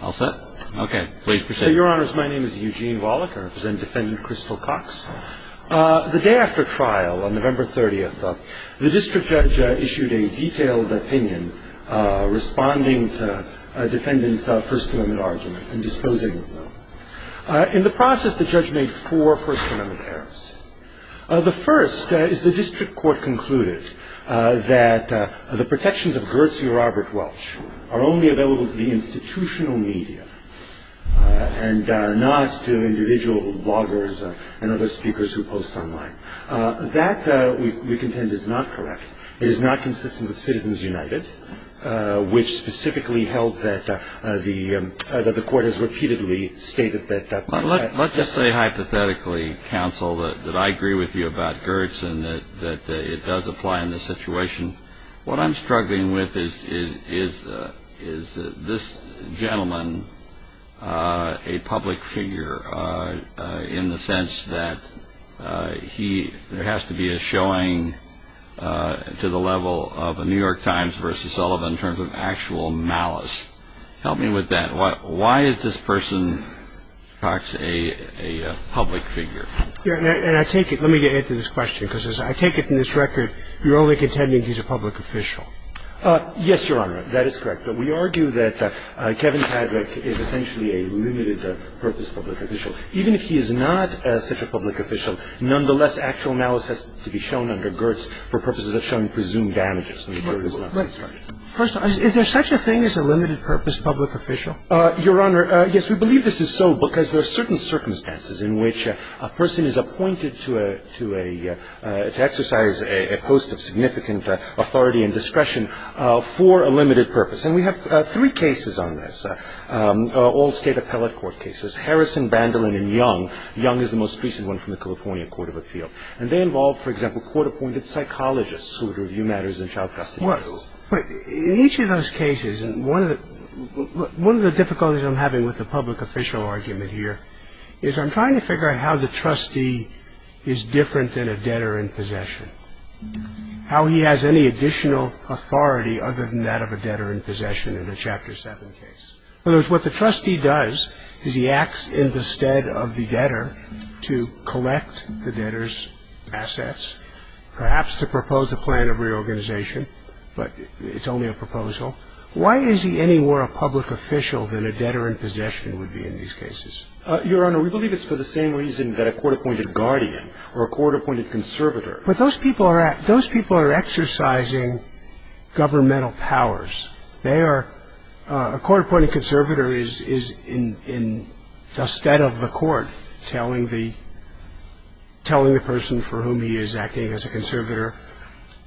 All set? Okay. Please proceed. Your Honors, my name is Eugene Wallach. I represent Defendant Crystal Cox. The day after trial, on November 30th, the district judge issued a detailed opinion responding to a defendant's First Amendment arguments and disposing of them. In the process, the judge made four First Amendment errors. The first is the district court concluded that the protections of Gertz and Robert Welch are only available to the institutional media and not as to individual bloggers and other speakers who post online. That, we contend, is not correct. It is not consistent with Citizens United, which specifically held that the court has repeatedly stated that Let's just say hypothetically, counsel, that I agree with you about Gertz and that it does apply in this situation. What I'm struggling with is this gentleman a public figure in the sense that there has to be a showing to the level of a New York Times versus Sullivan in terms of actual malice. Help me with that. Why is this person, Cox, a public figure? And I take it, let me get into this question, because as I take it from this record, you're only contending he's a public official. Yes, Your Honor. That is correct. But we argue that Kevin Padraic is essentially a limited-purpose public official. Even if he is not such a public official, nonetheless, actual malice has to be shown under Gertz for purposes of showing presumed damages. First of all, is there such a thing as a limited-purpose public official? Your Honor, yes. We believe this is so because there are certain circumstances in which a person is appointed to exercise a post of significant authority and discretion for a limited purpose. And we have three cases on this, all State appellate court cases, Harrison, Bandolin and Young. Young is the most recent one from the California Court of Appeal. And they involve, for example, court-appointed psychologists who would review matters in child custody cases. But in each of those cases, one of the difficulties I'm having with the public official argument here is I'm trying to figure out how the trustee is different than a debtor in possession, how he has any additional authority other than that of a debtor in possession in the Chapter 7 case. In other words, what the trustee does is he acts in the stead of the debtor to collect the debtor's assets, perhaps to propose a plan of reorganization, but it's only a proposal. Why is he any more a public official than a debtor in possession would be in these cases? Your Honor, we believe it's for the same reason that a court-appointed guardian or a court-appointed conservator But those people are exercising governmental powers. A court-appointed conservator is in the stead of the court, telling the person for whom he is acting as a conservator,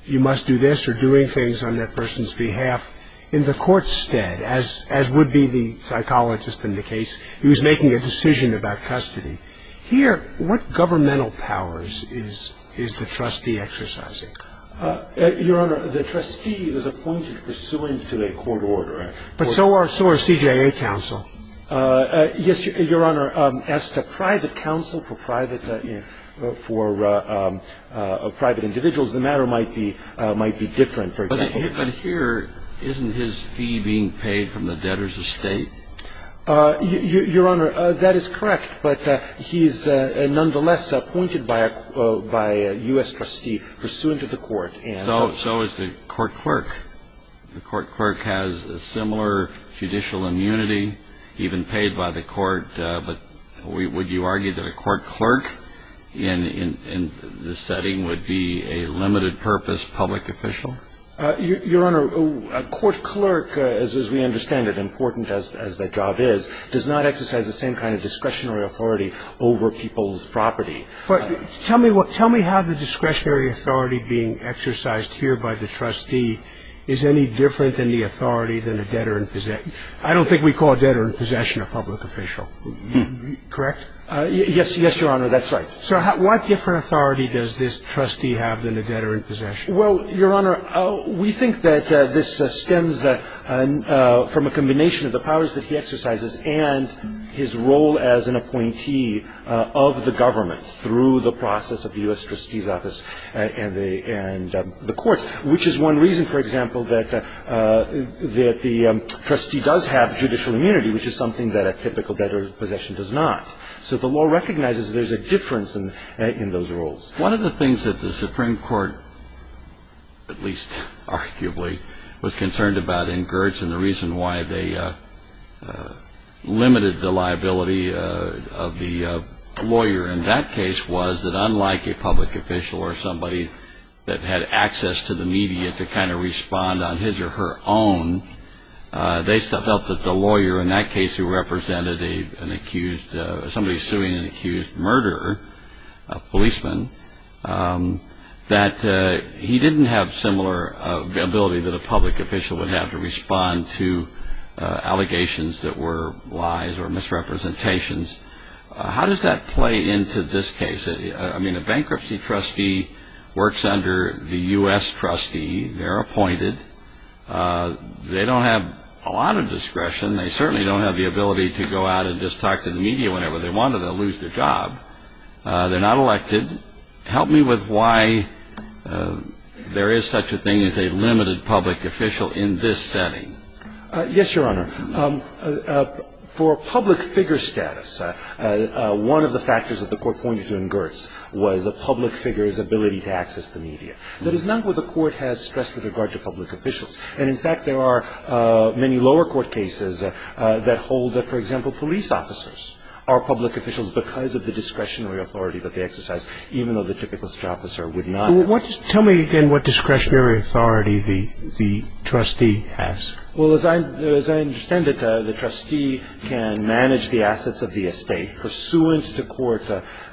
you must do this or doing things on that person's behalf in the court's stead, as would be the psychologist in the case who is making a decision about custody. Here, what governmental powers is the trustee exercising? Your Honor, the trustee is appointed pursuant to a court order. But so are CJA counsel. Yes, Your Honor. As to private counsel for private individuals, the matter might be different, for example. But here, isn't his fee being paid from the debtor's estate? Your Honor, that is correct. But he is nonetheless appointed by a U.S. trustee pursuant to the court. So is the court clerk. The court clerk has a similar judicial immunity, even paid by the court. But would you argue that a court clerk in this setting would be a limited-purpose public official? Your Honor, a court clerk, as we understand it, important as the job is, does not exercise the same kind of discretionary authority over people's property. But tell me how the discretionary authority being exercised here by the trustee is any different than the authority than a debtor in possession. I don't think we call a debtor in possession a public official. Correct? Yes, Your Honor, that's right. So what different authority does this trustee have than a debtor in possession? Well, Your Honor, we think that this stems from a combination of the powers that he exercises and his role as an appointee of the government through the process of the U.S. trustee's office and the court, which is one reason, for example, that the trustee does have judicial immunity, which is something that a typical debtor in possession does not. So the law recognizes there's a difference in those roles. One of the things that the Supreme Court, at least arguably, was concerned about in Gertz and the reason why they limited the liability of the lawyer in that case was that unlike a public official or somebody that had access to the media to kind of respond on his or her own, they felt that the lawyer in that case who represented an accused or somebody suing an accused murderer, a policeman, that he didn't have similar ability that a public official would have to respond to allegations that were lies or misrepresentations. How does that play into this case? I mean, a bankruptcy trustee works under the U.S. trustee. They're appointed. They don't have a lot of discretion. They certainly don't have the ability to go out and just talk to the media whenever they want to. They'll lose their job. They're not elected. Help me with why there is such a thing as a limited public official in this setting. Yes, Your Honor. For public figure status, one of the factors that the court pointed to in Gertz was a public figure's ability to access the media. That is not what the court has stressed with regard to public officials. And, in fact, there are many lower court cases that hold that, for example, police officers are public officials because of the discretionary authority that they exercise, even though the typical officer would not. Tell me, again, what discretionary authority the trustee has. Well, as I understand it, the trustee can manage the assets of the estate pursuant to court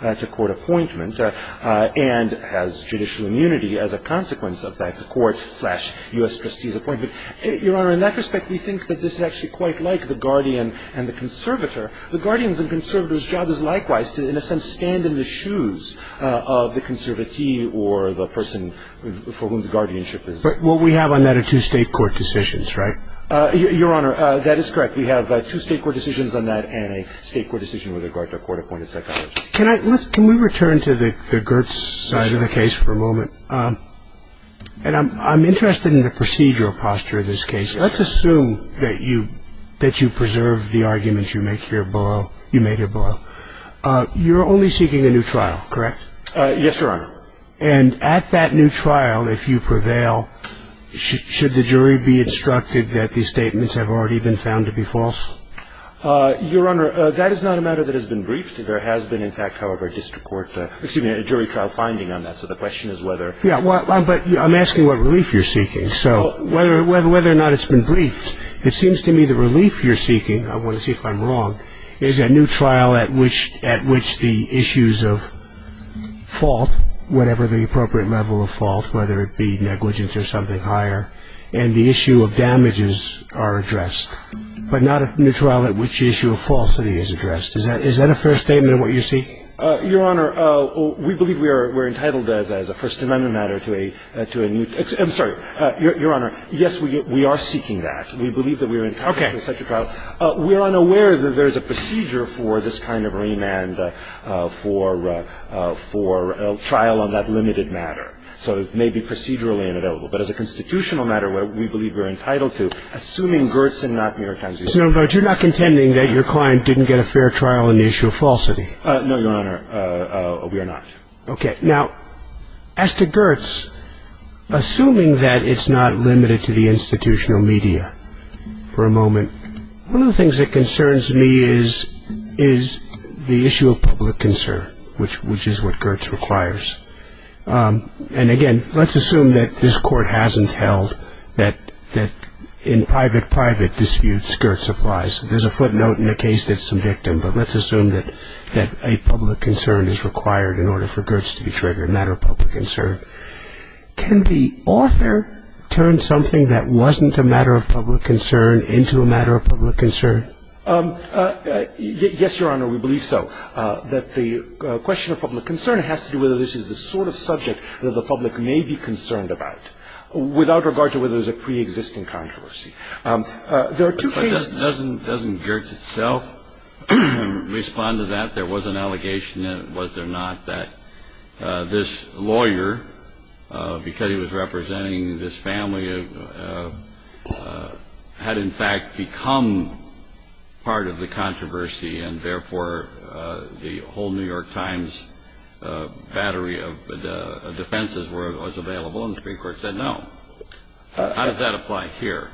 appointment and has judicial immunity as a consequence of that court-slash-U.S. trustee's appointment. Your Honor, in that respect, we think that this is actually quite like the guardian and the conservator. The guardian's and conservator's job is likewise to, in a sense, stand in the shoes of the conservatee or the person for whom the guardianship is. But what we have on that are two state court decisions, right? Your Honor, that is correct. We have two state court decisions on that and a state court decision with regard to a court-appointed psychologist. Can we return to the Gertz side of the case for a moment? And I'm interested in the procedural posture of this case. Let's assume that you preserved the arguments you made here below. You're only seeking a new trial, correct? Yes, Your Honor. And at that new trial, if you prevail, should the jury be instructed that these statements have already been found to be false? Your Honor, that is not a matter that has been briefed. There has been, in fact, however, a jury trial finding on that, so the question is whether. Yes, but I'm asking what relief you're seeking. So whether or not it's been briefed, it seems to me the relief you're seeking, I want to see if I'm wrong, is a new trial at which the issues of fault, whatever the appropriate level of fault, whether it be negligence or something higher, and the issue of damages are addressed, but not a new trial at which the issue of falsity is addressed. Is that a fair statement of what you seek? Your Honor, we believe we are entitled, as a First Amendment matter, to a new – I'm sorry. Your Honor, yes, we are seeking that. We believe that we are entitled to such a trial. Okay. We're unaware that there's a procedure for this kind of remand for trial on that limited matter. So it may be procedurally inavailable. But as a constitutional matter, we believe we're entitled to, assuming Gertz and not mere time to use it. Your Honor, you're not contending that your client didn't get a fair trial on the issue of falsity? No, Your Honor, we are not. Okay. Now, as to Gertz, assuming that it's not limited to the institutional media for a moment, one of the things that concerns me is the issue of public concern, which is what Gertz requires. And, again, let's assume that this Court hasn't held that in private-private disputes, Gertz applies. There's a footnote in the case that's subjective, but let's assume that a public concern is required in order for Gertz to be triggered, a matter of public concern. Can the author turn something that wasn't a matter of public concern into a matter of public concern? Yes, Your Honor, we believe so. We believe that the question of public concern has to do with whether this is the sort of subject that the public may be concerned about, without regard to whether there's a preexisting controversy. There are two cases. But doesn't Gertz itself respond to that? There was an allegation, was there not, that this lawyer, because he was representing this family, had in fact become part of the controversy and, therefore, the whole New York Times battery of defenses was available, and the Supreme Court said no. How does that apply here?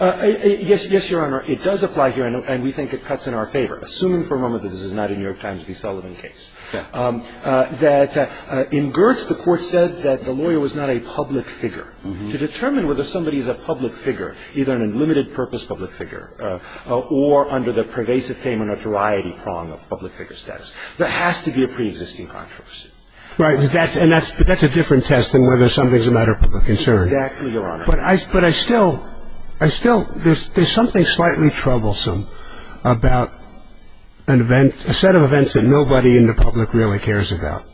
Yes, Your Honor, it does apply here, and we think it cuts in our favor, assuming for a moment that this is not a New York Times v. Sullivan case, that in Gertz the Court said that the lawyer was not a public figure. We think it's a matter of public concern to determine whether somebody is a public figure, either an unlimited purpose public figure or under the pervasive fame and notoriety prong of public figure status. There has to be a preexisting controversy. Right. But that's a different test than whether something's a matter of public concern. Exactly, Your Honor. But I still ‑‑ there's something slightly troublesome about a set of events that nobody in the public really cares about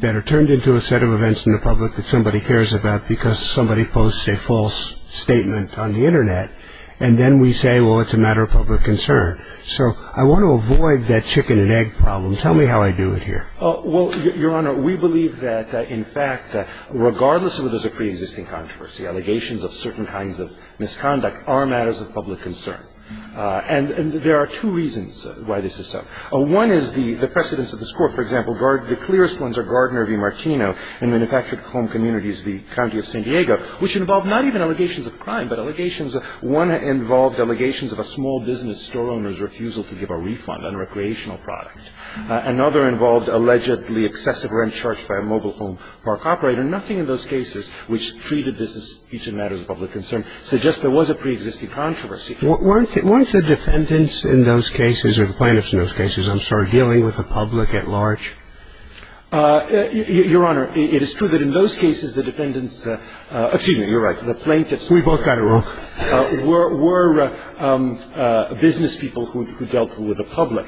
that are turned into a set of events in the public that somebody cares about because somebody posts a false statement on the Internet, and then we say, well, it's a matter of public concern. So I want to avoid that chicken and egg problem. Tell me how I do it here. Well, Your Honor, we believe that, in fact, regardless of if there's a preexisting controversy, allegations of certain kinds of misconduct are matters of public concern. And there are two reasons why this is so. One is the precedence of the score. For example, the clearest ones are Gardner v. Martino in Manufactured Home Communities v. County of San Diego, which involved not even allegations of crime, but allegations of ‑‑ one involved allegations of a small business store owner's refusal to give a refund on a recreational product. Another involved allegedly excessive rent charged by a mobile home park operator. Nothing in those cases which treated this as each a matter of public concern suggests there was a preexisting controversy. And the second reason is that the plaintiffs, the plaintiffs in those cases, were not dealing with the public at large. Weren't the defendants in those cases, or the plaintiffs in those cases, I'm sorry, dealing with the public at large? Your Honor, it is true that in those cases the defendants ‑‑ excuse me, you're right. The plaintiffs ‑‑ We both got it wrong. ‑‑ were business people who dealt with the public.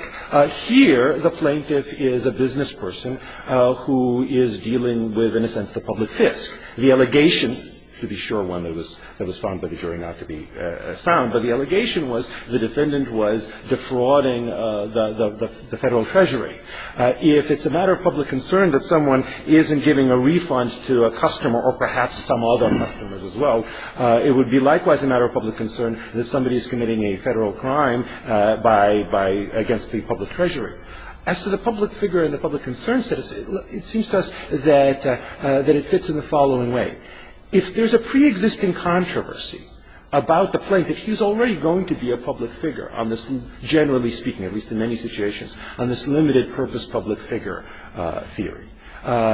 Here, the plaintiff is a business person who is dealing with, in a sense, the public fisc. The allegation, to be sure, one that was found by the jury not to be sound, but the allegation was the defendant was defrauding the federal treasury. If it's a matter of public concern that someone isn't giving a refund to a customer or perhaps some other customers as well, it would be likewise a matter of public concern that somebody is committing a federal crime against the public treasury. As to the public figure and the public concern statistic, it seems to us that it fits in the following way. If there's a preexisting controversy about the plaintiff, he's already going to be a public figure on this, generally speaking, at least in many situations, on this limited purpose public figure theory.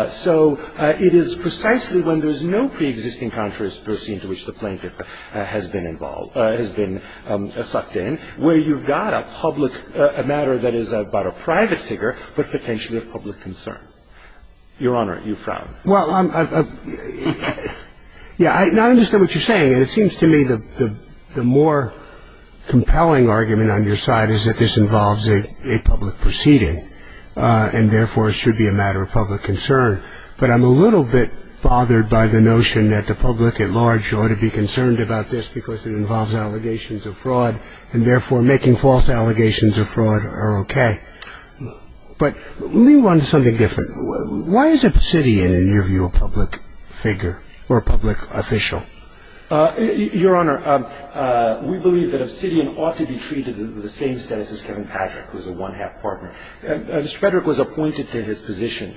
So it is precisely when there's no preexisting controversy into which the plaintiff has been involved, has been sucked in, where you've got a public matter that is about a private figure, but potentially a public concern. Your Honor, you frown. Well, yeah, I understand what you're saying, and it seems to me the more compelling argument on your side is that this involves a public proceeding, and therefore it should be a matter of public concern. But I'm a little bit bothered by the notion that the public at large ought to be concerned about this because it involves allegations of fraud, and therefore making false allegations of fraud are okay. But let me run to something different. Why is Obsidian, in your view, a public figure or a public official? Your Honor, we believe that Obsidian ought to be treated with the same status as Kevin Patrick, who's a one-half partner. Mr. Patrick was appointed to his position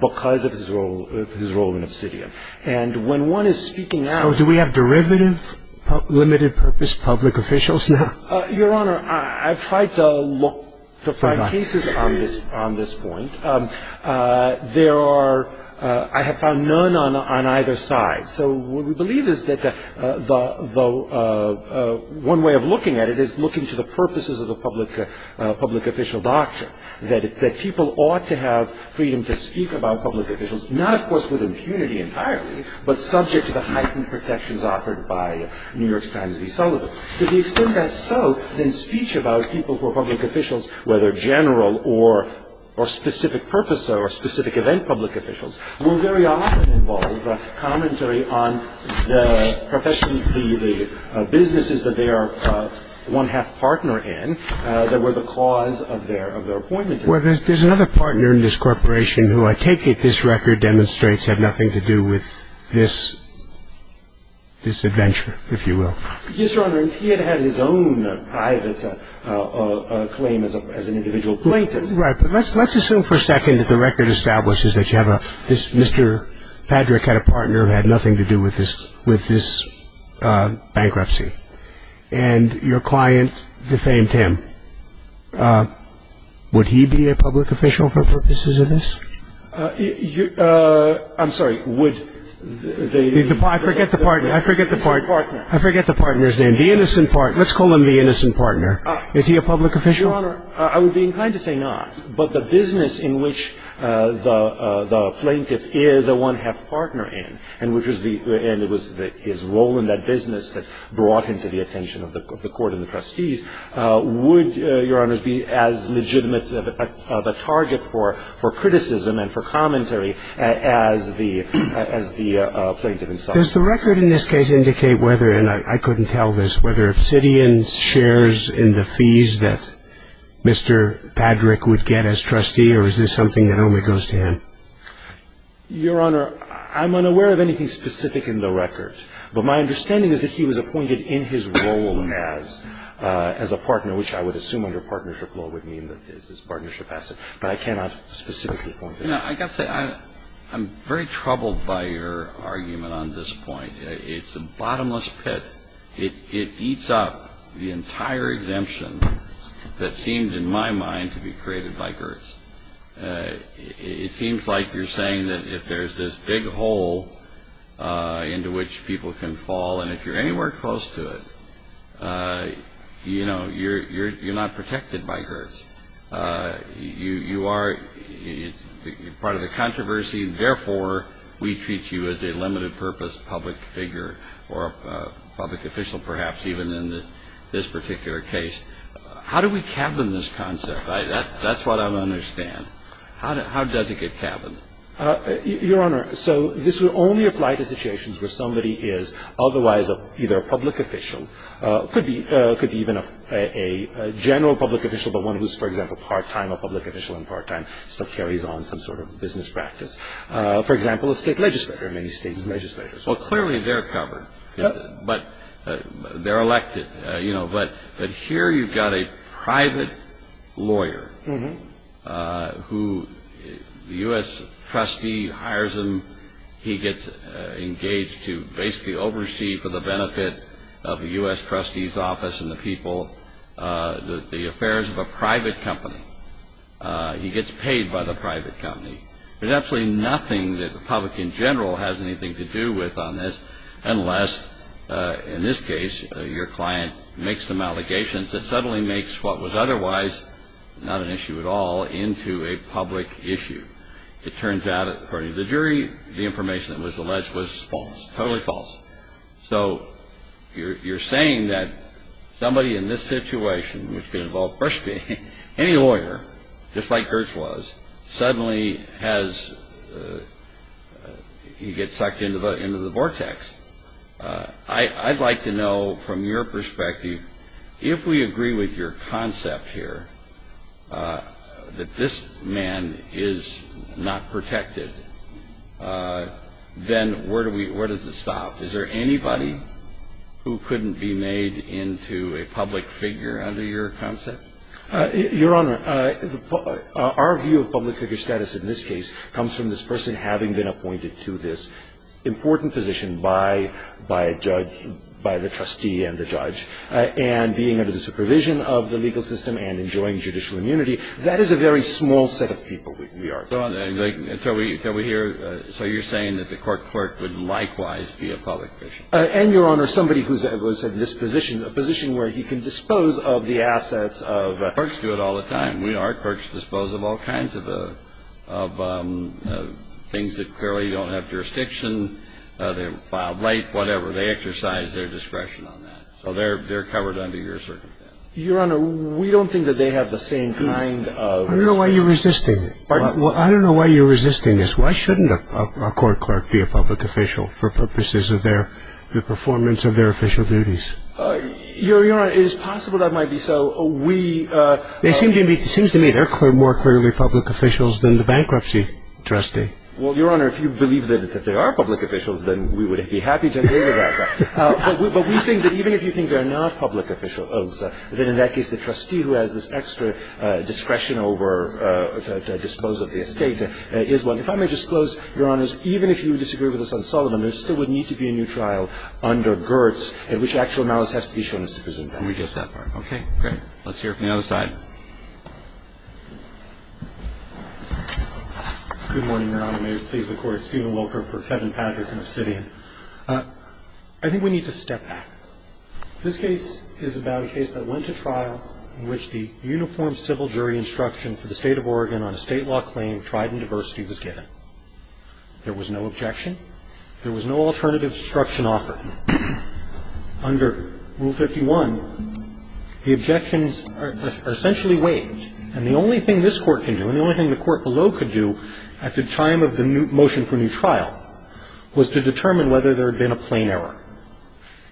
because of his role in Obsidian. And when one is speaking out... So do we have derivative, limited-purpose public officials now? Your Honor, I've tried to find cases on this point. I have found none on either side. So what we believe is that one way of looking at it is looking to the purposes of the public official doctrine, that people ought to have freedom to speak about public officials, not, of course, with impunity entirely, but subject to the heightened protections offered by New York Times v. Sullivan. To the extent that's so, then speech about people who are public officials, whether general or specific purpose or specific event public officials, will very often involve commentary on the business that they are one-half partner in that were the cause of their appointment. Well, there's another partner in this corporation who I take it this record demonstrates have nothing to do with this adventure, if you will. Yes, Your Honor. He had had his own private claim as an individual plaintiff. Right. But let's assume for a second that the record establishes that you have a... Mr. Patrick had a partner who had nothing to do with this bankruptcy. And your client defamed him. Would he be a public official for purposes of this? I'm sorry, would the... I forget the partner. The partner. I forget the partner's name. The innocent partner. Let's call him the innocent partner. Is he a public official? Your Honor, I would be inclined to say not. But the business in which the plaintiff is a one-half partner in, and it was his role in that business that brought him to the attention of the court and the trustees, would, Your Honor, be as legitimate of a target for criticism and for commentary as the plaintiff himself. Does the record in this case indicate whether, and I couldn't tell this, whether obsidian shares in the fees that Mr. Patrick would get as trustee, or is this something that only goes to him? Your Honor, I'm unaware of anything specific in the record. But my understanding is that he was appointed in his role as a partner, which I would assume under partnership law would mean that there's this partnership asset. But I cannot specifically point to that. You know, I've got to say, I'm very troubled by your argument on this point. It's a bottomless pit. It eats up the entire exemption that seemed in my mind to be created by Gertz. It seems like you're saying that if there's this big hole into which people can fall, and if you're anywhere close to it, you know, you're not protected by Gertz. You are part of the controversy. Therefore, we treat you as a limited-purpose public figure or a public official, perhaps, even in this particular case. How do we cap them, this concept? That's what I don't understand. How does it get capped? Your Honor, so this would only apply to situations where somebody is otherwise either a public official, could be even a general public official, but one who's, for example, part-time a public official and part-time still carries on some sort of business practice. For example, a state legislator, many states' legislators. Well, clearly, they're covered. But they're elected. But here you've got a private lawyer who the U.S. trustee hires him. He gets engaged to basically oversee for the benefit of the U.S. trustee's office and the people the affairs of a private company. He gets paid by the private company. There's absolutely nothing that the public in general has anything to do with on this unless, in this case, your client makes some allegations that suddenly makes what was otherwise not an issue at all into a public issue. It turns out, according to the jury, the information that was alleged was false, totally false. So you're saying that somebody in this situation, which could involve any lawyer, just like Gertz was, suddenly he gets sucked into the vortex. I'd like to know, from your perspective, if we agree with your concept here that this man is not protected, then where does it stop? Is there anybody who couldn't be made into a public figure under your concept? Your Honor, our view of public figure status in this case comes from this person having been appointed to this important position by a judge, by the trustee and the judge, and being under the supervision of the legal system and enjoying judicial immunity. That is a very small set of people we are. So you're saying that the court clerk would likewise be a public figure? And, Your Honor, somebody who's in this position, a position where he can dispose of the assets of... Courts do it all the time. Our courts dispose of all kinds of things that clearly don't have jurisdiction, filed late, whatever. They exercise their discretion on that. So they're covered under your circumstance. Your Honor, we don't think that they have the same kind of... I don't know why you're resisting. I don't know why you're resisting this. Why shouldn't a court clerk be a public official for purposes of their performance of their official duties? Your Honor, it is possible that might be so. We... It seems to me they're more clearly public officials than the bankruptcy trustee. Well, Your Honor, if you believe that they are public officials, then we would be happy to agree to that. But we think that even if you think they're not public officials, then in that case the trustee who has this extra discretion over the disposal of the estate is one. If I may disclose, Your Honor, even if you disagree with us on Sullivan, there still would need to be a new trial under Gertz in which actual malice has to be shown as sufficient. Can we just stop there? Okay, great. Let's hear from the other side. Good morning, Your Honor. May it please the Court. Steven Walker for Kevin Patrick and Obsidian. I think we need to step back. This case is about a case that went to trial in which the uniform civil jury instruction for the State of Oregon on a state law claim of trident diversity was given. There was no objection. There was no alternative instruction offered. Under Rule 51, the objections are essentially waived. And the only thing this Court can do and the only thing the Court below could do at the time of the motion for new trial was to determine whether there had been a plain error.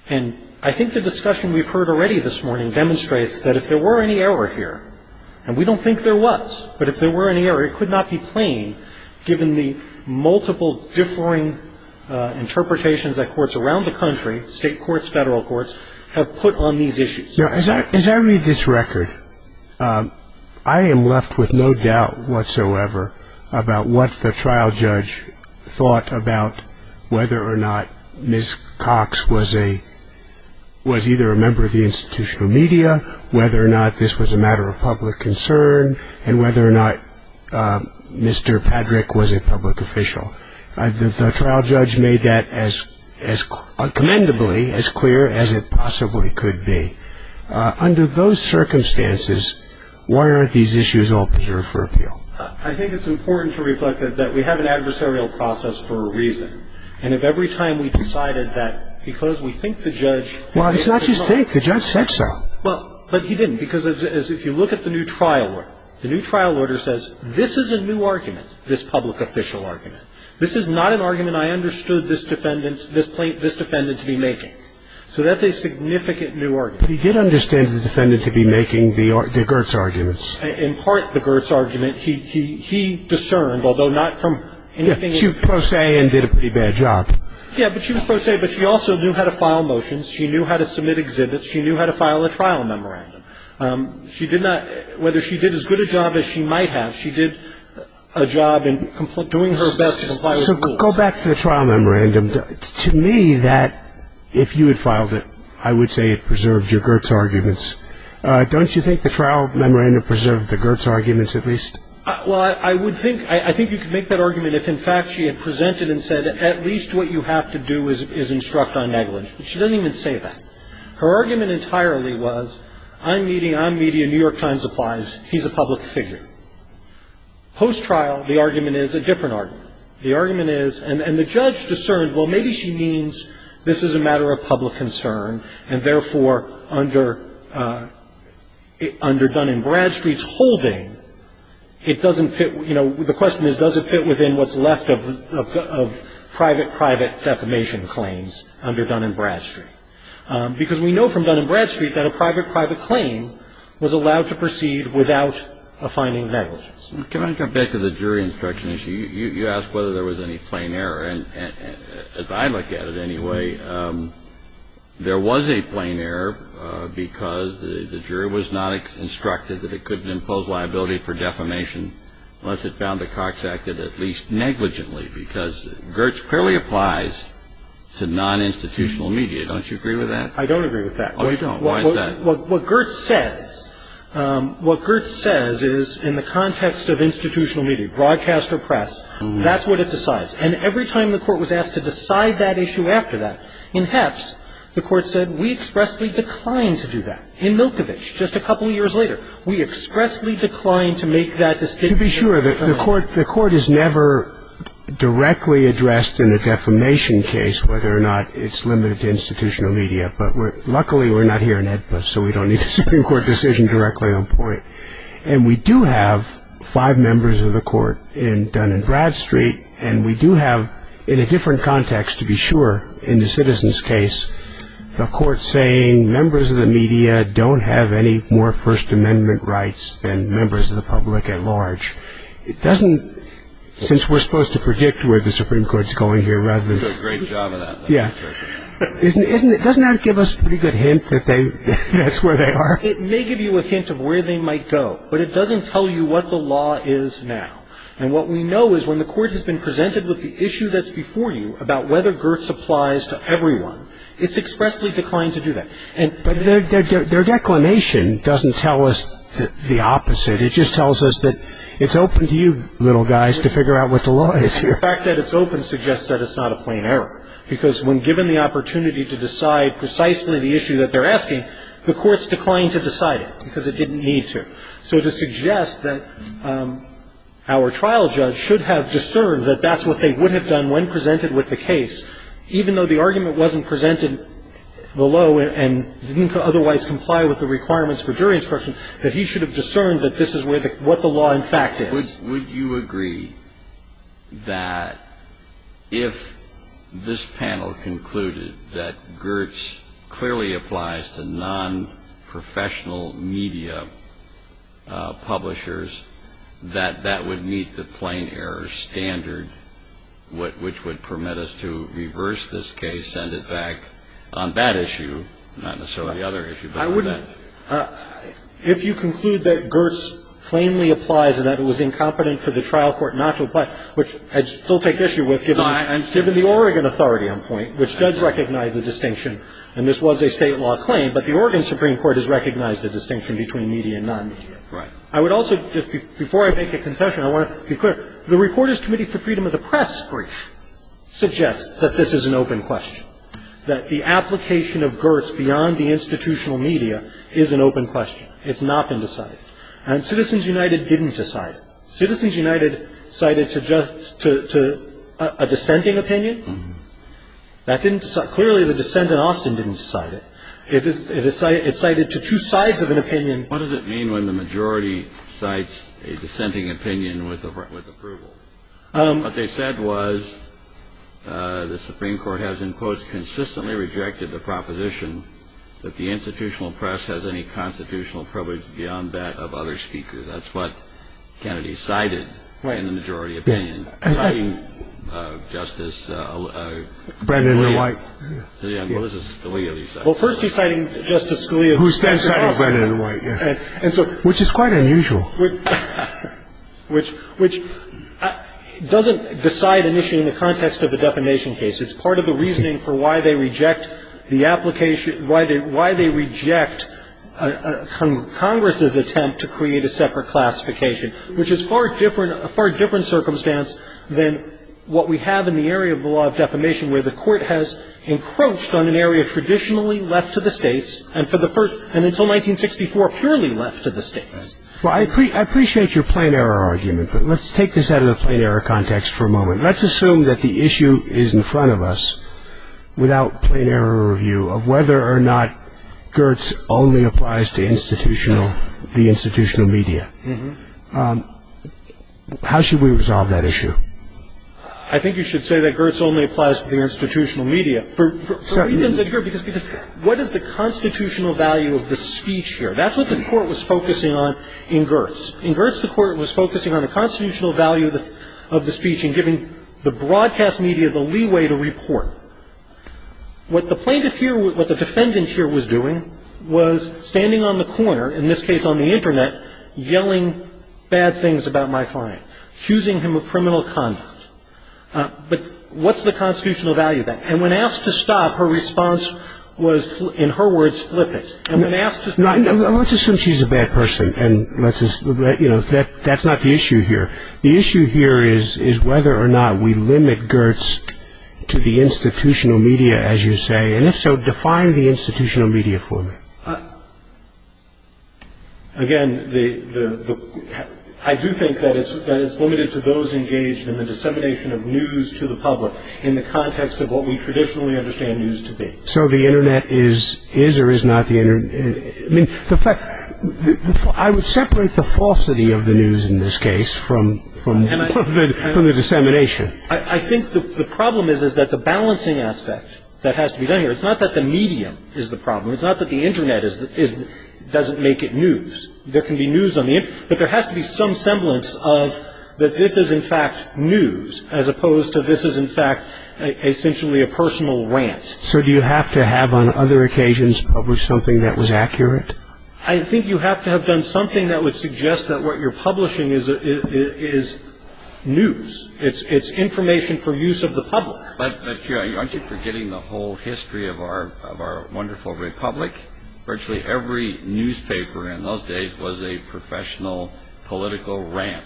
And I think the discussion we've heard already this morning demonstrates that if there were any error here, and we don't think there was, but if there were any error, it could not be plain given the multiple differing interpretations that courts around the country, state courts, federal courts, have put on these issues. As I read this record, I am left with no doubt whatsoever about what the trial judge thought about whether or not Ms. Cox was either a member of the institutional media, whether or not this was a matter of public concern, and whether or not Mr. Patrick was a public official. The trial judge made that as commendably as clear as it possibly could be. Under those circumstances, why aren't these issues all preserved for appeal? I think it's important to reflect that we have an adversarial process for a reason. And if every time we decided that because we think the judge had made a mistake. Well, it's not just think. The judge said so. Well, but he didn't. Because if you look at the new trial order, the new trial order says, this is a new argument, this public official argument. This is not an argument I understood this defendant to be making. So that's a significant new argument. But he did understand the defendant to be making the Gertz arguments. In part, the Gertz argument, he discerned, although not from anything else. But she was pro se and did a pretty bad job. Yeah, but she was pro se. But she also knew how to file motions. She knew how to submit exhibits. She knew how to file a trial memorandum. Whether she did as good a job as she might have, she did a job in doing her best to comply with the rules. So go back to the trial memorandum. To me, that, if you had filed it, I would say it preserved your Gertz arguments. Don't you think the trial memorandum preserved the Gertz arguments at least? Well, I would think, I think you could make that argument if, in fact, she had presented and said, at least what you have to do is instruct on negligence. But she doesn't even say that. Her argument entirely was, I'm meeting, I'm meeting, New York Times applies, he's a public figure. Post-trial, the argument is a different argument. The argument is, and the judge discerned, well, maybe she means this is a matter of public concern, and therefore, under Dun & Bradstreet's holding, it doesn't fit, you know, the question is, does it fit within what's left of private, private defamation claims under Dun & Bradstreet? Because we know from Dun & Bradstreet that a private, private claim was allowed to proceed without a finding of negligence. Can I come back to the jury instruction issue? You asked whether there was any plain error. And as I look at it, anyway, there was a plain error because the jury was not instructed that it couldn't impose liability for defamation unless it found that Cox acted at least negligently. Because Gertz clearly applies to non-institutional media. Don't you agree with that? I don't agree with that. Oh, you don't? Why is that? What Gertz says, what Gertz says is, in the context of institutional media, broadcast or press, that's what it decides. And every time the court was asked to decide that issue after that, in Hepps, the court said, we expressly decline to do that. In Milkovich, just a couple of years later, we expressly decline to make that distinction. To be sure, the court is never directly addressed in a defamation case whether or not it's limited to institutional media. But luckily, we're not here in HEDPA, so we don't need a Supreme Court decision directly on point. And we do have five members of the court in Dun & Bradstreet, and we do have, in a different context, to be sure, in the citizens' case, the court saying, members of the media don't have any more First Amendment rights than members of the public at large. It doesn't, since we're supposed to predict where the Supreme Court's going here rather than. You're doing a great job of that. Yeah. Doesn't that give us a pretty good hint that they, that's where they are? It may give you a hint of where they might go, but it doesn't tell you what the law is now. And what we know is when the court has been presented with the issue that's before you about whether GERTS applies to everyone, it's expressly declined to do that. But their declination doesn't tell us the opposite. It just tells us that it's open to you little guys to figure out what the law is here. The fact that it's open suggests that it's not a plain error, because when given the opportunity to decide precisely the issue that they're asking, the court's declined to decide it because it didn't need to. So to suggest that our trial judge should have discerned that that's what they would have done when presented with the case, even though the argument wasn't presented below and didn't otherwise comply with the requirements for jury instruction, that he should have discerned that this is what the law in fact is. Would you agree that if this panel concluded that GERTS clearly applies to nonprofessional media publishers, that that would meet the plain error standard which would permit us to reverse this case, send it back on that issue, not necessarily the other issue, but on that issue? If you conclude that GERTS plainly applies and that it was incompetent for the trial court not to apply, which I'd still take issue with given the Oregon authority on point, which does recognize the distinction, and this was a State law claim, but the Oregon Supreme Court has recognized the distinction between media and nonmedia. I would also, just before I make a concession, I want to be clear. The Reporters' Committee for Freedom of the Press brief suggests that this is an open question, that the application of GERTS beyond the institutional media is an open question. It's not been decided. And Citizens United didn't decide it. Citizens United cited to a dissenting opinion. Clearly, the dissent in Austin didn't decide it. It cited to two sides of an opinion. What does it mean when the majority cites a dissenting opinion with approval? What they said was the Supreme Court has, in quotes, consistently rejected the proposition that the institutional press has any constitutional privilege beyond that of other speakers. That's what Kennedy cited in the majority opinion. Citing Justice Scalia. Well, first he's citing Justice Scalia. Who then cited Brendan White, yes. Which is quite unusual. Which doesn't decide an issue in the context of a defamation case. It's part of the reasoning for why they reject the application, why they reject Congress's attempt to create a separate classification, which is a far different circumstance than what we have in the area of the law of defamation, where the Court has encroached on an area traditionally left to the states, and until 1964, purely left to the states. Well, I appreciate your plain error argument, but let's take this out of the plain error context for a moment. Let's assume that the issue is in front of us, without plain error review, of whether or not Gertz only applies to the institutional media. How should we resolve that issue? I think you should say that Gertz only applies to the institutional media. For reasons that Gertz, because what is the constitutional value of the speech here? That's what the Court was focusing on in Gertz. In Gertz, the Court was focusing on the constitutional value of the speech and giving the broadcast media the leeway to report. What the plaintiff here, what the defendant here was doing was standing on the corner, in this case on the Internet, yelling bad things about my client, accusing him of criminal conduct. But what's the constitutional value of that? And when asked to stop, her response was, in her words, flip it. Let's assume she's a bad person, and that's not the issue here. The issue here is whether or not we limit Gertz to the institutional media, as you say, and if so, define the institutional media for me. Again, I do think that it's limited to those engaged in the dissemination of news to the public, in the context of what we traditionally understand news to be. So the Internet is or is not the Internet? I mean, I would separate the falsity of the news in this case from the dissemination. I think the problem is that the balancing aspect that has to be done here, it's not that the medium is the problem. It's not that the Internet doesn't make it news. There can be news on the Internet, but there has to be some semblance of that this is, in fact, news, as opposed to this is, in fact, essentially a personal rant. So do you have to have, on other occasions, published something that was accurate? I think you have to have done something that would suggest that what you're publishing is news. It's information for use of the public. But aren't you forgetting the whole history of our wonderful republic? Virtually every newspaper in those days was a professional political rant.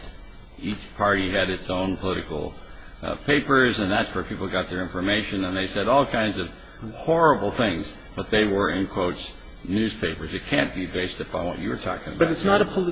Each party had its own political papers, and that's where people got their information. And they said all kinds of horrible things, but they were, in quotes, newspapers. It can't be based upon what you were talking about. But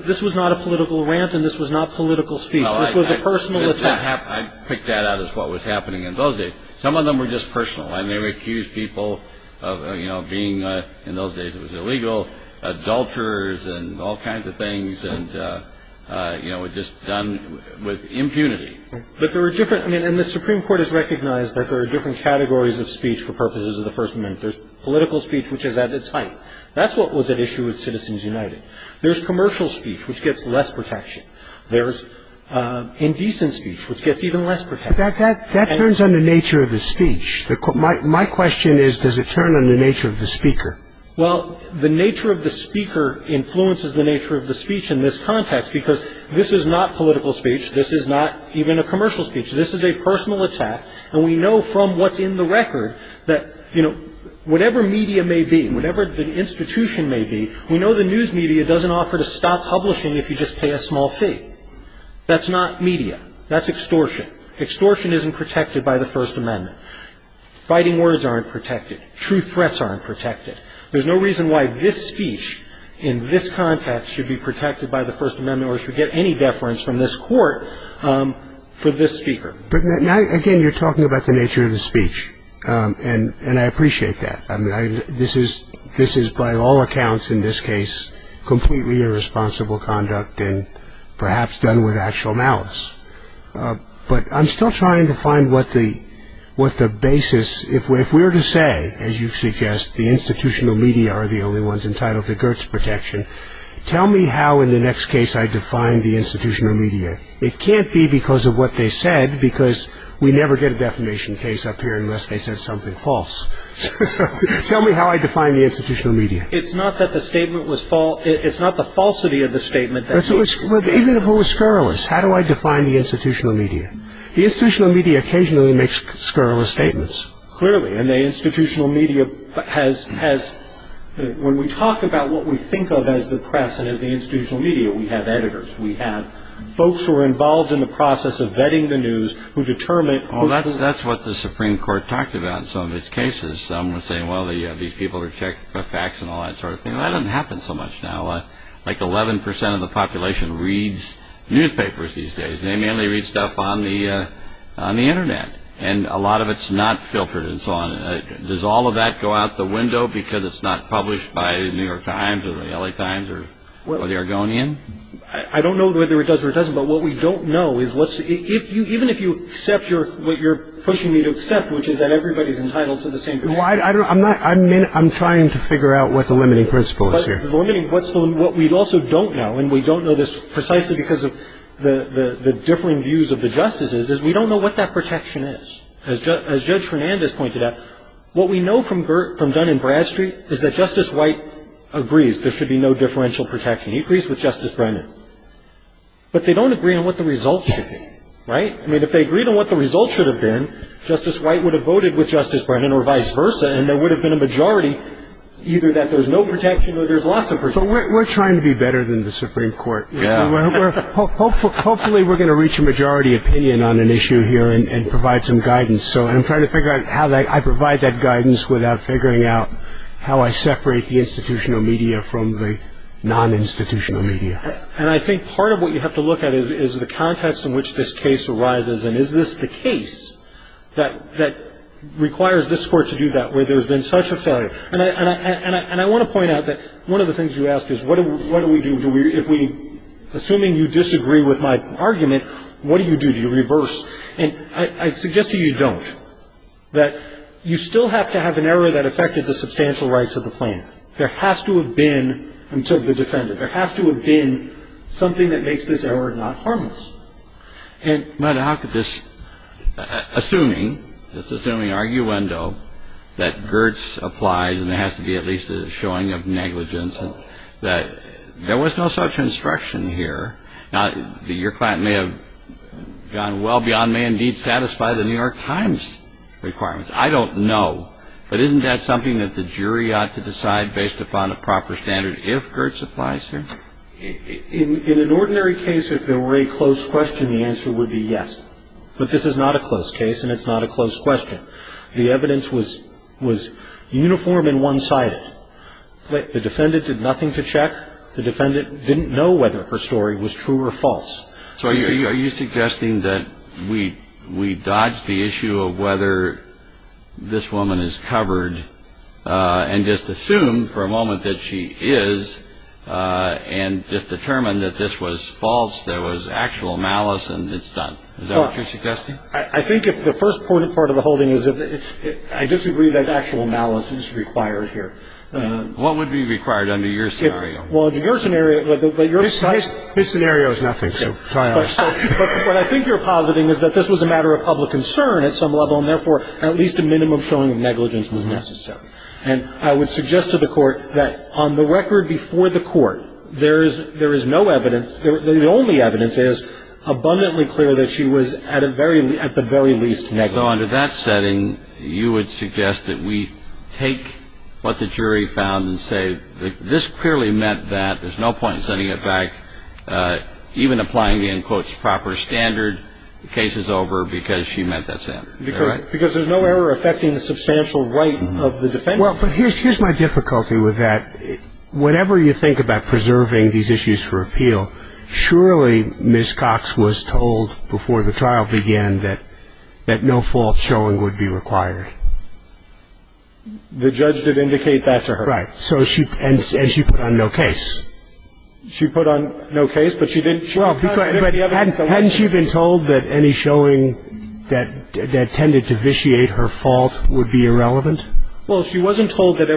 this was not a political rant, and this was not political speech. This was a personal attack. I picked that out as what was happening in those days. Some of them were just personal, and they would accuse people of being, in those days it was illegal, adulterers and all kinds of things, and, you know, just done with impunity. But there were different ñ and the Supreme Court has recognized that there are different categories of speech for purposes of the First Amendment. There's political speech, which is at its height. That's what was at issue with Citizens United. There's commercial speech, which gets less protection. There's indecent speech, which gets even less protection. But that turns on the nature of the speech. My question is, does it turn on the nature of the speaker? Well, the nature of the speaker influences the nature of the speech in this context, because this is not political speech. This is not even a commercial speech. This is a personal attack, and we know from what's in the record that, you know, whatever media may be, whatever the institution may be, we know the news media doesn't offer to stop publishing if you just pay a small fee. That's not media. That's extortion. Extortion isn't protected by the First Amendment. Fighting words aren't protected. True threats aren't protected. There's no reason why this speech in this context should be protected by the First Amendment or should get any deference from this Court for this speaker. But, again, you're talking about the nature of the speech, and I appreciate that. I mean, this is by all accounts, in this case, completely irresponsible conduct and perhaps done with actual malice. But I'm still trying to find what the basis, if we're to say, as you suggest, the institutional media are the only ones entitled to Gertz protection, tell me how in the next case I define the institutional media. It can't be because of what they said, because we never get a defamation case up here unless they said something false. So tell me how I define the institutional media. It's not that the statement was false. It's not the falsity of the statement. Even if it was scurrilous, how do I define the institutional media? The institutional media occasionally makes scurrilous statements. Clearly. And the institutional media has, when we talk about what we think of as the press and as the institutional media, we have editors. We have folks who are involved in the process of vetting the news who determine... Oh, that's what the Supreme Court talked about in some of its cases. Some were saying, well, these people are checked for facts and all that sort of thing. That doesn't happen so much now. Like 11 percent of the population reads newspapers these days. They mainly read stuff on the Internet. And a lot of it's not filtered and so on. Does all of that go out the window because it's not published by the New York Times or the LA Times or the Argonian? I don't know whether it does or it doesn't, but what we don't know is what's... Even if you accept what you're pushing me to accept, which is that everybody's entitled to the same... I'm trying to figure out what the limiting principle is here. What we also don't know, and we don't know this precisely because of the differing views of the justices, is we don't know what that protection is. As Judge Fernandez pointed out, what we know from Dunn and Bradstreet is that Justice White agrees there should be no differential protection. He agrees with Justice Brennan. But they don't agree on what the results should be, right? I mean, if they agreed on what the results should have been, Justice White would have voted with Justice Brennan or vice versa, and there would have been a majority either that there's no protection or there's lots of protection. So we're trying to be better than the Supreme Court. Yeah. Hopefully we're going to reach a majority opinion on an issue here and provide some guidance. So I'm trying to figure out how I provide that guidance without figuring out how I separate the institutional media from the non-institutional media. And I think part of what you have to look at is the context in which this case arises, and is this the case that requires this Court to do that where there's been such a failure? And I want to point out that one of the things you ask is what do we do? Assuming you disagree with my argument, what do you do? Do you reverse? And I suggest to you don't. That you still have to have an error that affected the substantial rights of the plaintiff. There has to have been until the defendant. There has to have been something that makes this error not harmless. And how could this, assuming, just assuming arguendo, that Gertz applies and there has to be at least a showing of negligence, that there was no such instruction here. Now, your client may have gone well beyond may indeed satisfy the New York Times requirements. I don't know. But isn't that something that the jury ought to decide based upon a proper standard if Gertz applies here? In an ordinary case, if there were a close question, the answer would be yes. But this is not a close case, and it's not a close question. The evidence was uniform and one-sided. The defendant did nothing to check. The defendant didn't know whether her story was true or false. So are you suggesting that we dodge the issue of whether this woman is covered and just assume for a moment that she is and just determine that this was false, that it was actual malice and it's done? Is that what you're suggesting? I think if the first part of the holding is I disagree that actual malice is required here. What would be required under your scenario? Well, under your scenario, but your side of it. This scenario is nothing. But what I think you're positing is that this was a matter of public concern at some level and therefore at least a minimum showing of negligence was necessary. And I would suggest to the Court that on the record before the Court, there is no evidence. The only evidence is abundantly clear that she was at the very least negligent. Although under that setting, you would suggest that we take what the jury found and say this clearly meant that there's no point in sending it back, even applying the end quote proper standard, the case is over because she meant that sentence. Correct. Because there's no error affecting the substantial right of the defendant. Well, but here's my difficulty with that. Whenever you think about preserving these issues for appeal, surely Ms. Cox was told before the trial began that no false showing would be required. The judge did indicate that to her. Right. And she put on no case. She put on no case, but she did. Well, hadn't she been told that any showing that tended to vitiate her fault would be irrelevant? Well, she wasn't told that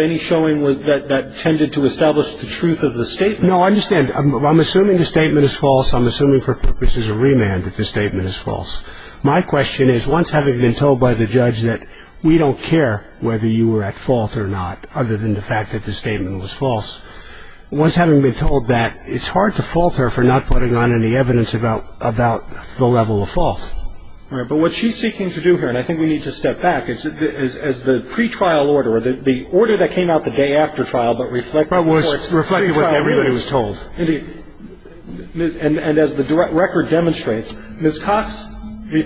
any showing that tended to establish the truth of the statement. No, I understand. I'm assuming the statement is false. I'm assuming for purposes of remand that the statement is false. My question is, once having been told by the judge that we don't care whether you were at fault or not, other than the fact that the statement was false, once having been told that, it's hard to fault her for not putting on any evidence about the level of fault. Right. But what she's seeking to do here, and I think we need to step back, is the pre-trial order, or the order that came out the day after trial, but reflects what everybody was told. Indeed. And as the record demonstrates, Ms. Cox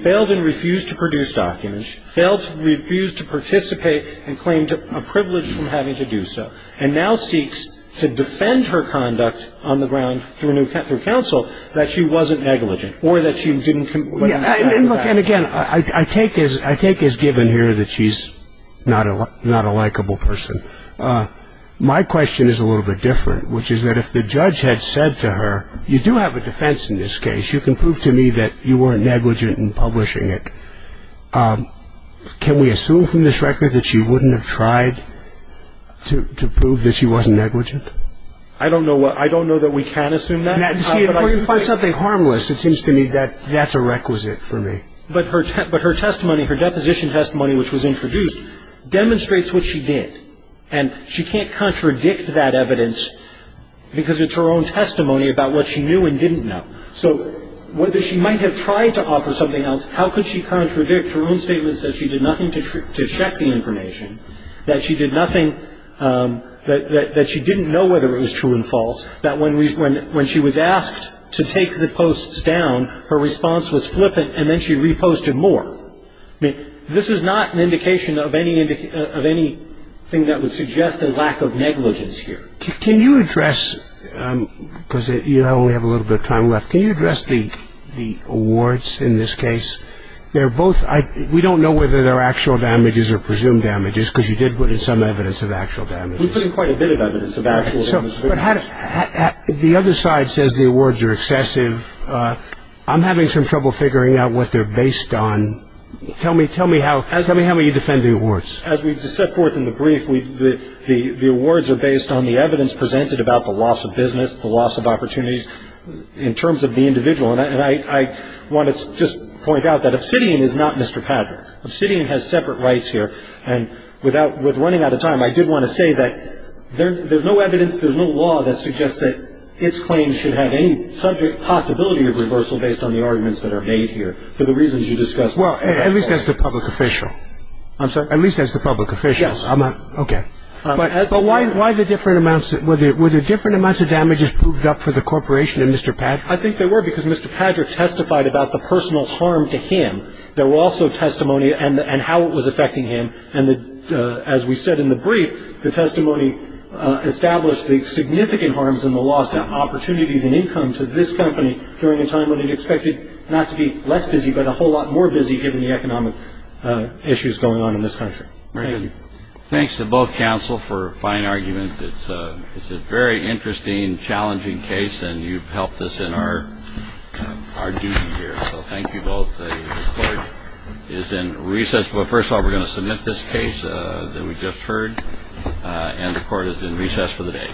failed and refused to produce documents. She failed to refuse to participate and claimed a privilege from having to do so, and now seeks to defend her conduct on the ground through counsel that she wasn't negligent or that she didn't comply. And again, I take as given here that she's not a likable person. My question is a little bit different, which is that if the judge had said to her, you do have a defense in this case, you can prove to me that you weren't negligent in publishing it, can we assume from this record that she wouldn't have tried to prove that she wasn't negligent? I don't know that we can assume that. See, if we can find something harmless, it seems to me that that's a requisite for me. But her testimony, her deposition testimony, which was introduced, demonstrates what she did, and she can't contradict that evidence because it's her own testimony about what she knew and didn't know. So whether she might have tried to offer something else, how could she contradict her own statements that she did nothing to check the information, that she did nothing, that she didn't know whether it was true and false, that when she was asked to take the posts down, her response was flippant, and then she reposted more? I mean, this is not an indication of anything that would suggest a lack of negligence here. Can you address, because you only have a little bit of time left, can you address the awards in this case? They're both – we don't know whether they're actual damages or presumed damages because you did put in some evidence of actual damages. We put in quite a bit of evidence of actual damages. But the other side says the awards are excessive. I'm having some trouble figuring out what they're based on. Tell me how you defend the awards. As we set forth in the brief, the awards are based on the evidence presented about the loss of business, the loss of opportunities in terms of the individual. And I want to just point out that obsidian is not Mr. Padraic. Obsidian has separate rights here. And without – with running out of time, I did want to say that there's no evidence, there's no law that suggests that its claims should have any subject possibility of reversal based on the arguments that are made here for the reasons you discussed. Well, at least that's the public official. I'm sorry? At least that's the public official. Yes. Okay. But why the different amounts – were there different amounts of damages proved up for the corporation and Mr. Padraic? I think there were because Mr. Padraic testified about the personal harm to him. There were also testimony and how it was affecting him. And as we said in the brief, the testimony established the significant harms in the loss of opportunities and income to this company during a time when it expected not to be less busy but a whole lot more busy given the economic issues going on in this country. Thank you. Thanks to both counsel for a fine argument. It's a very interesting, challenging case, and you've helped us in our duty here. So thank you both. The court is in recess. But first of all, we're going to submit this case that we just heard. And the court is in recess for the day.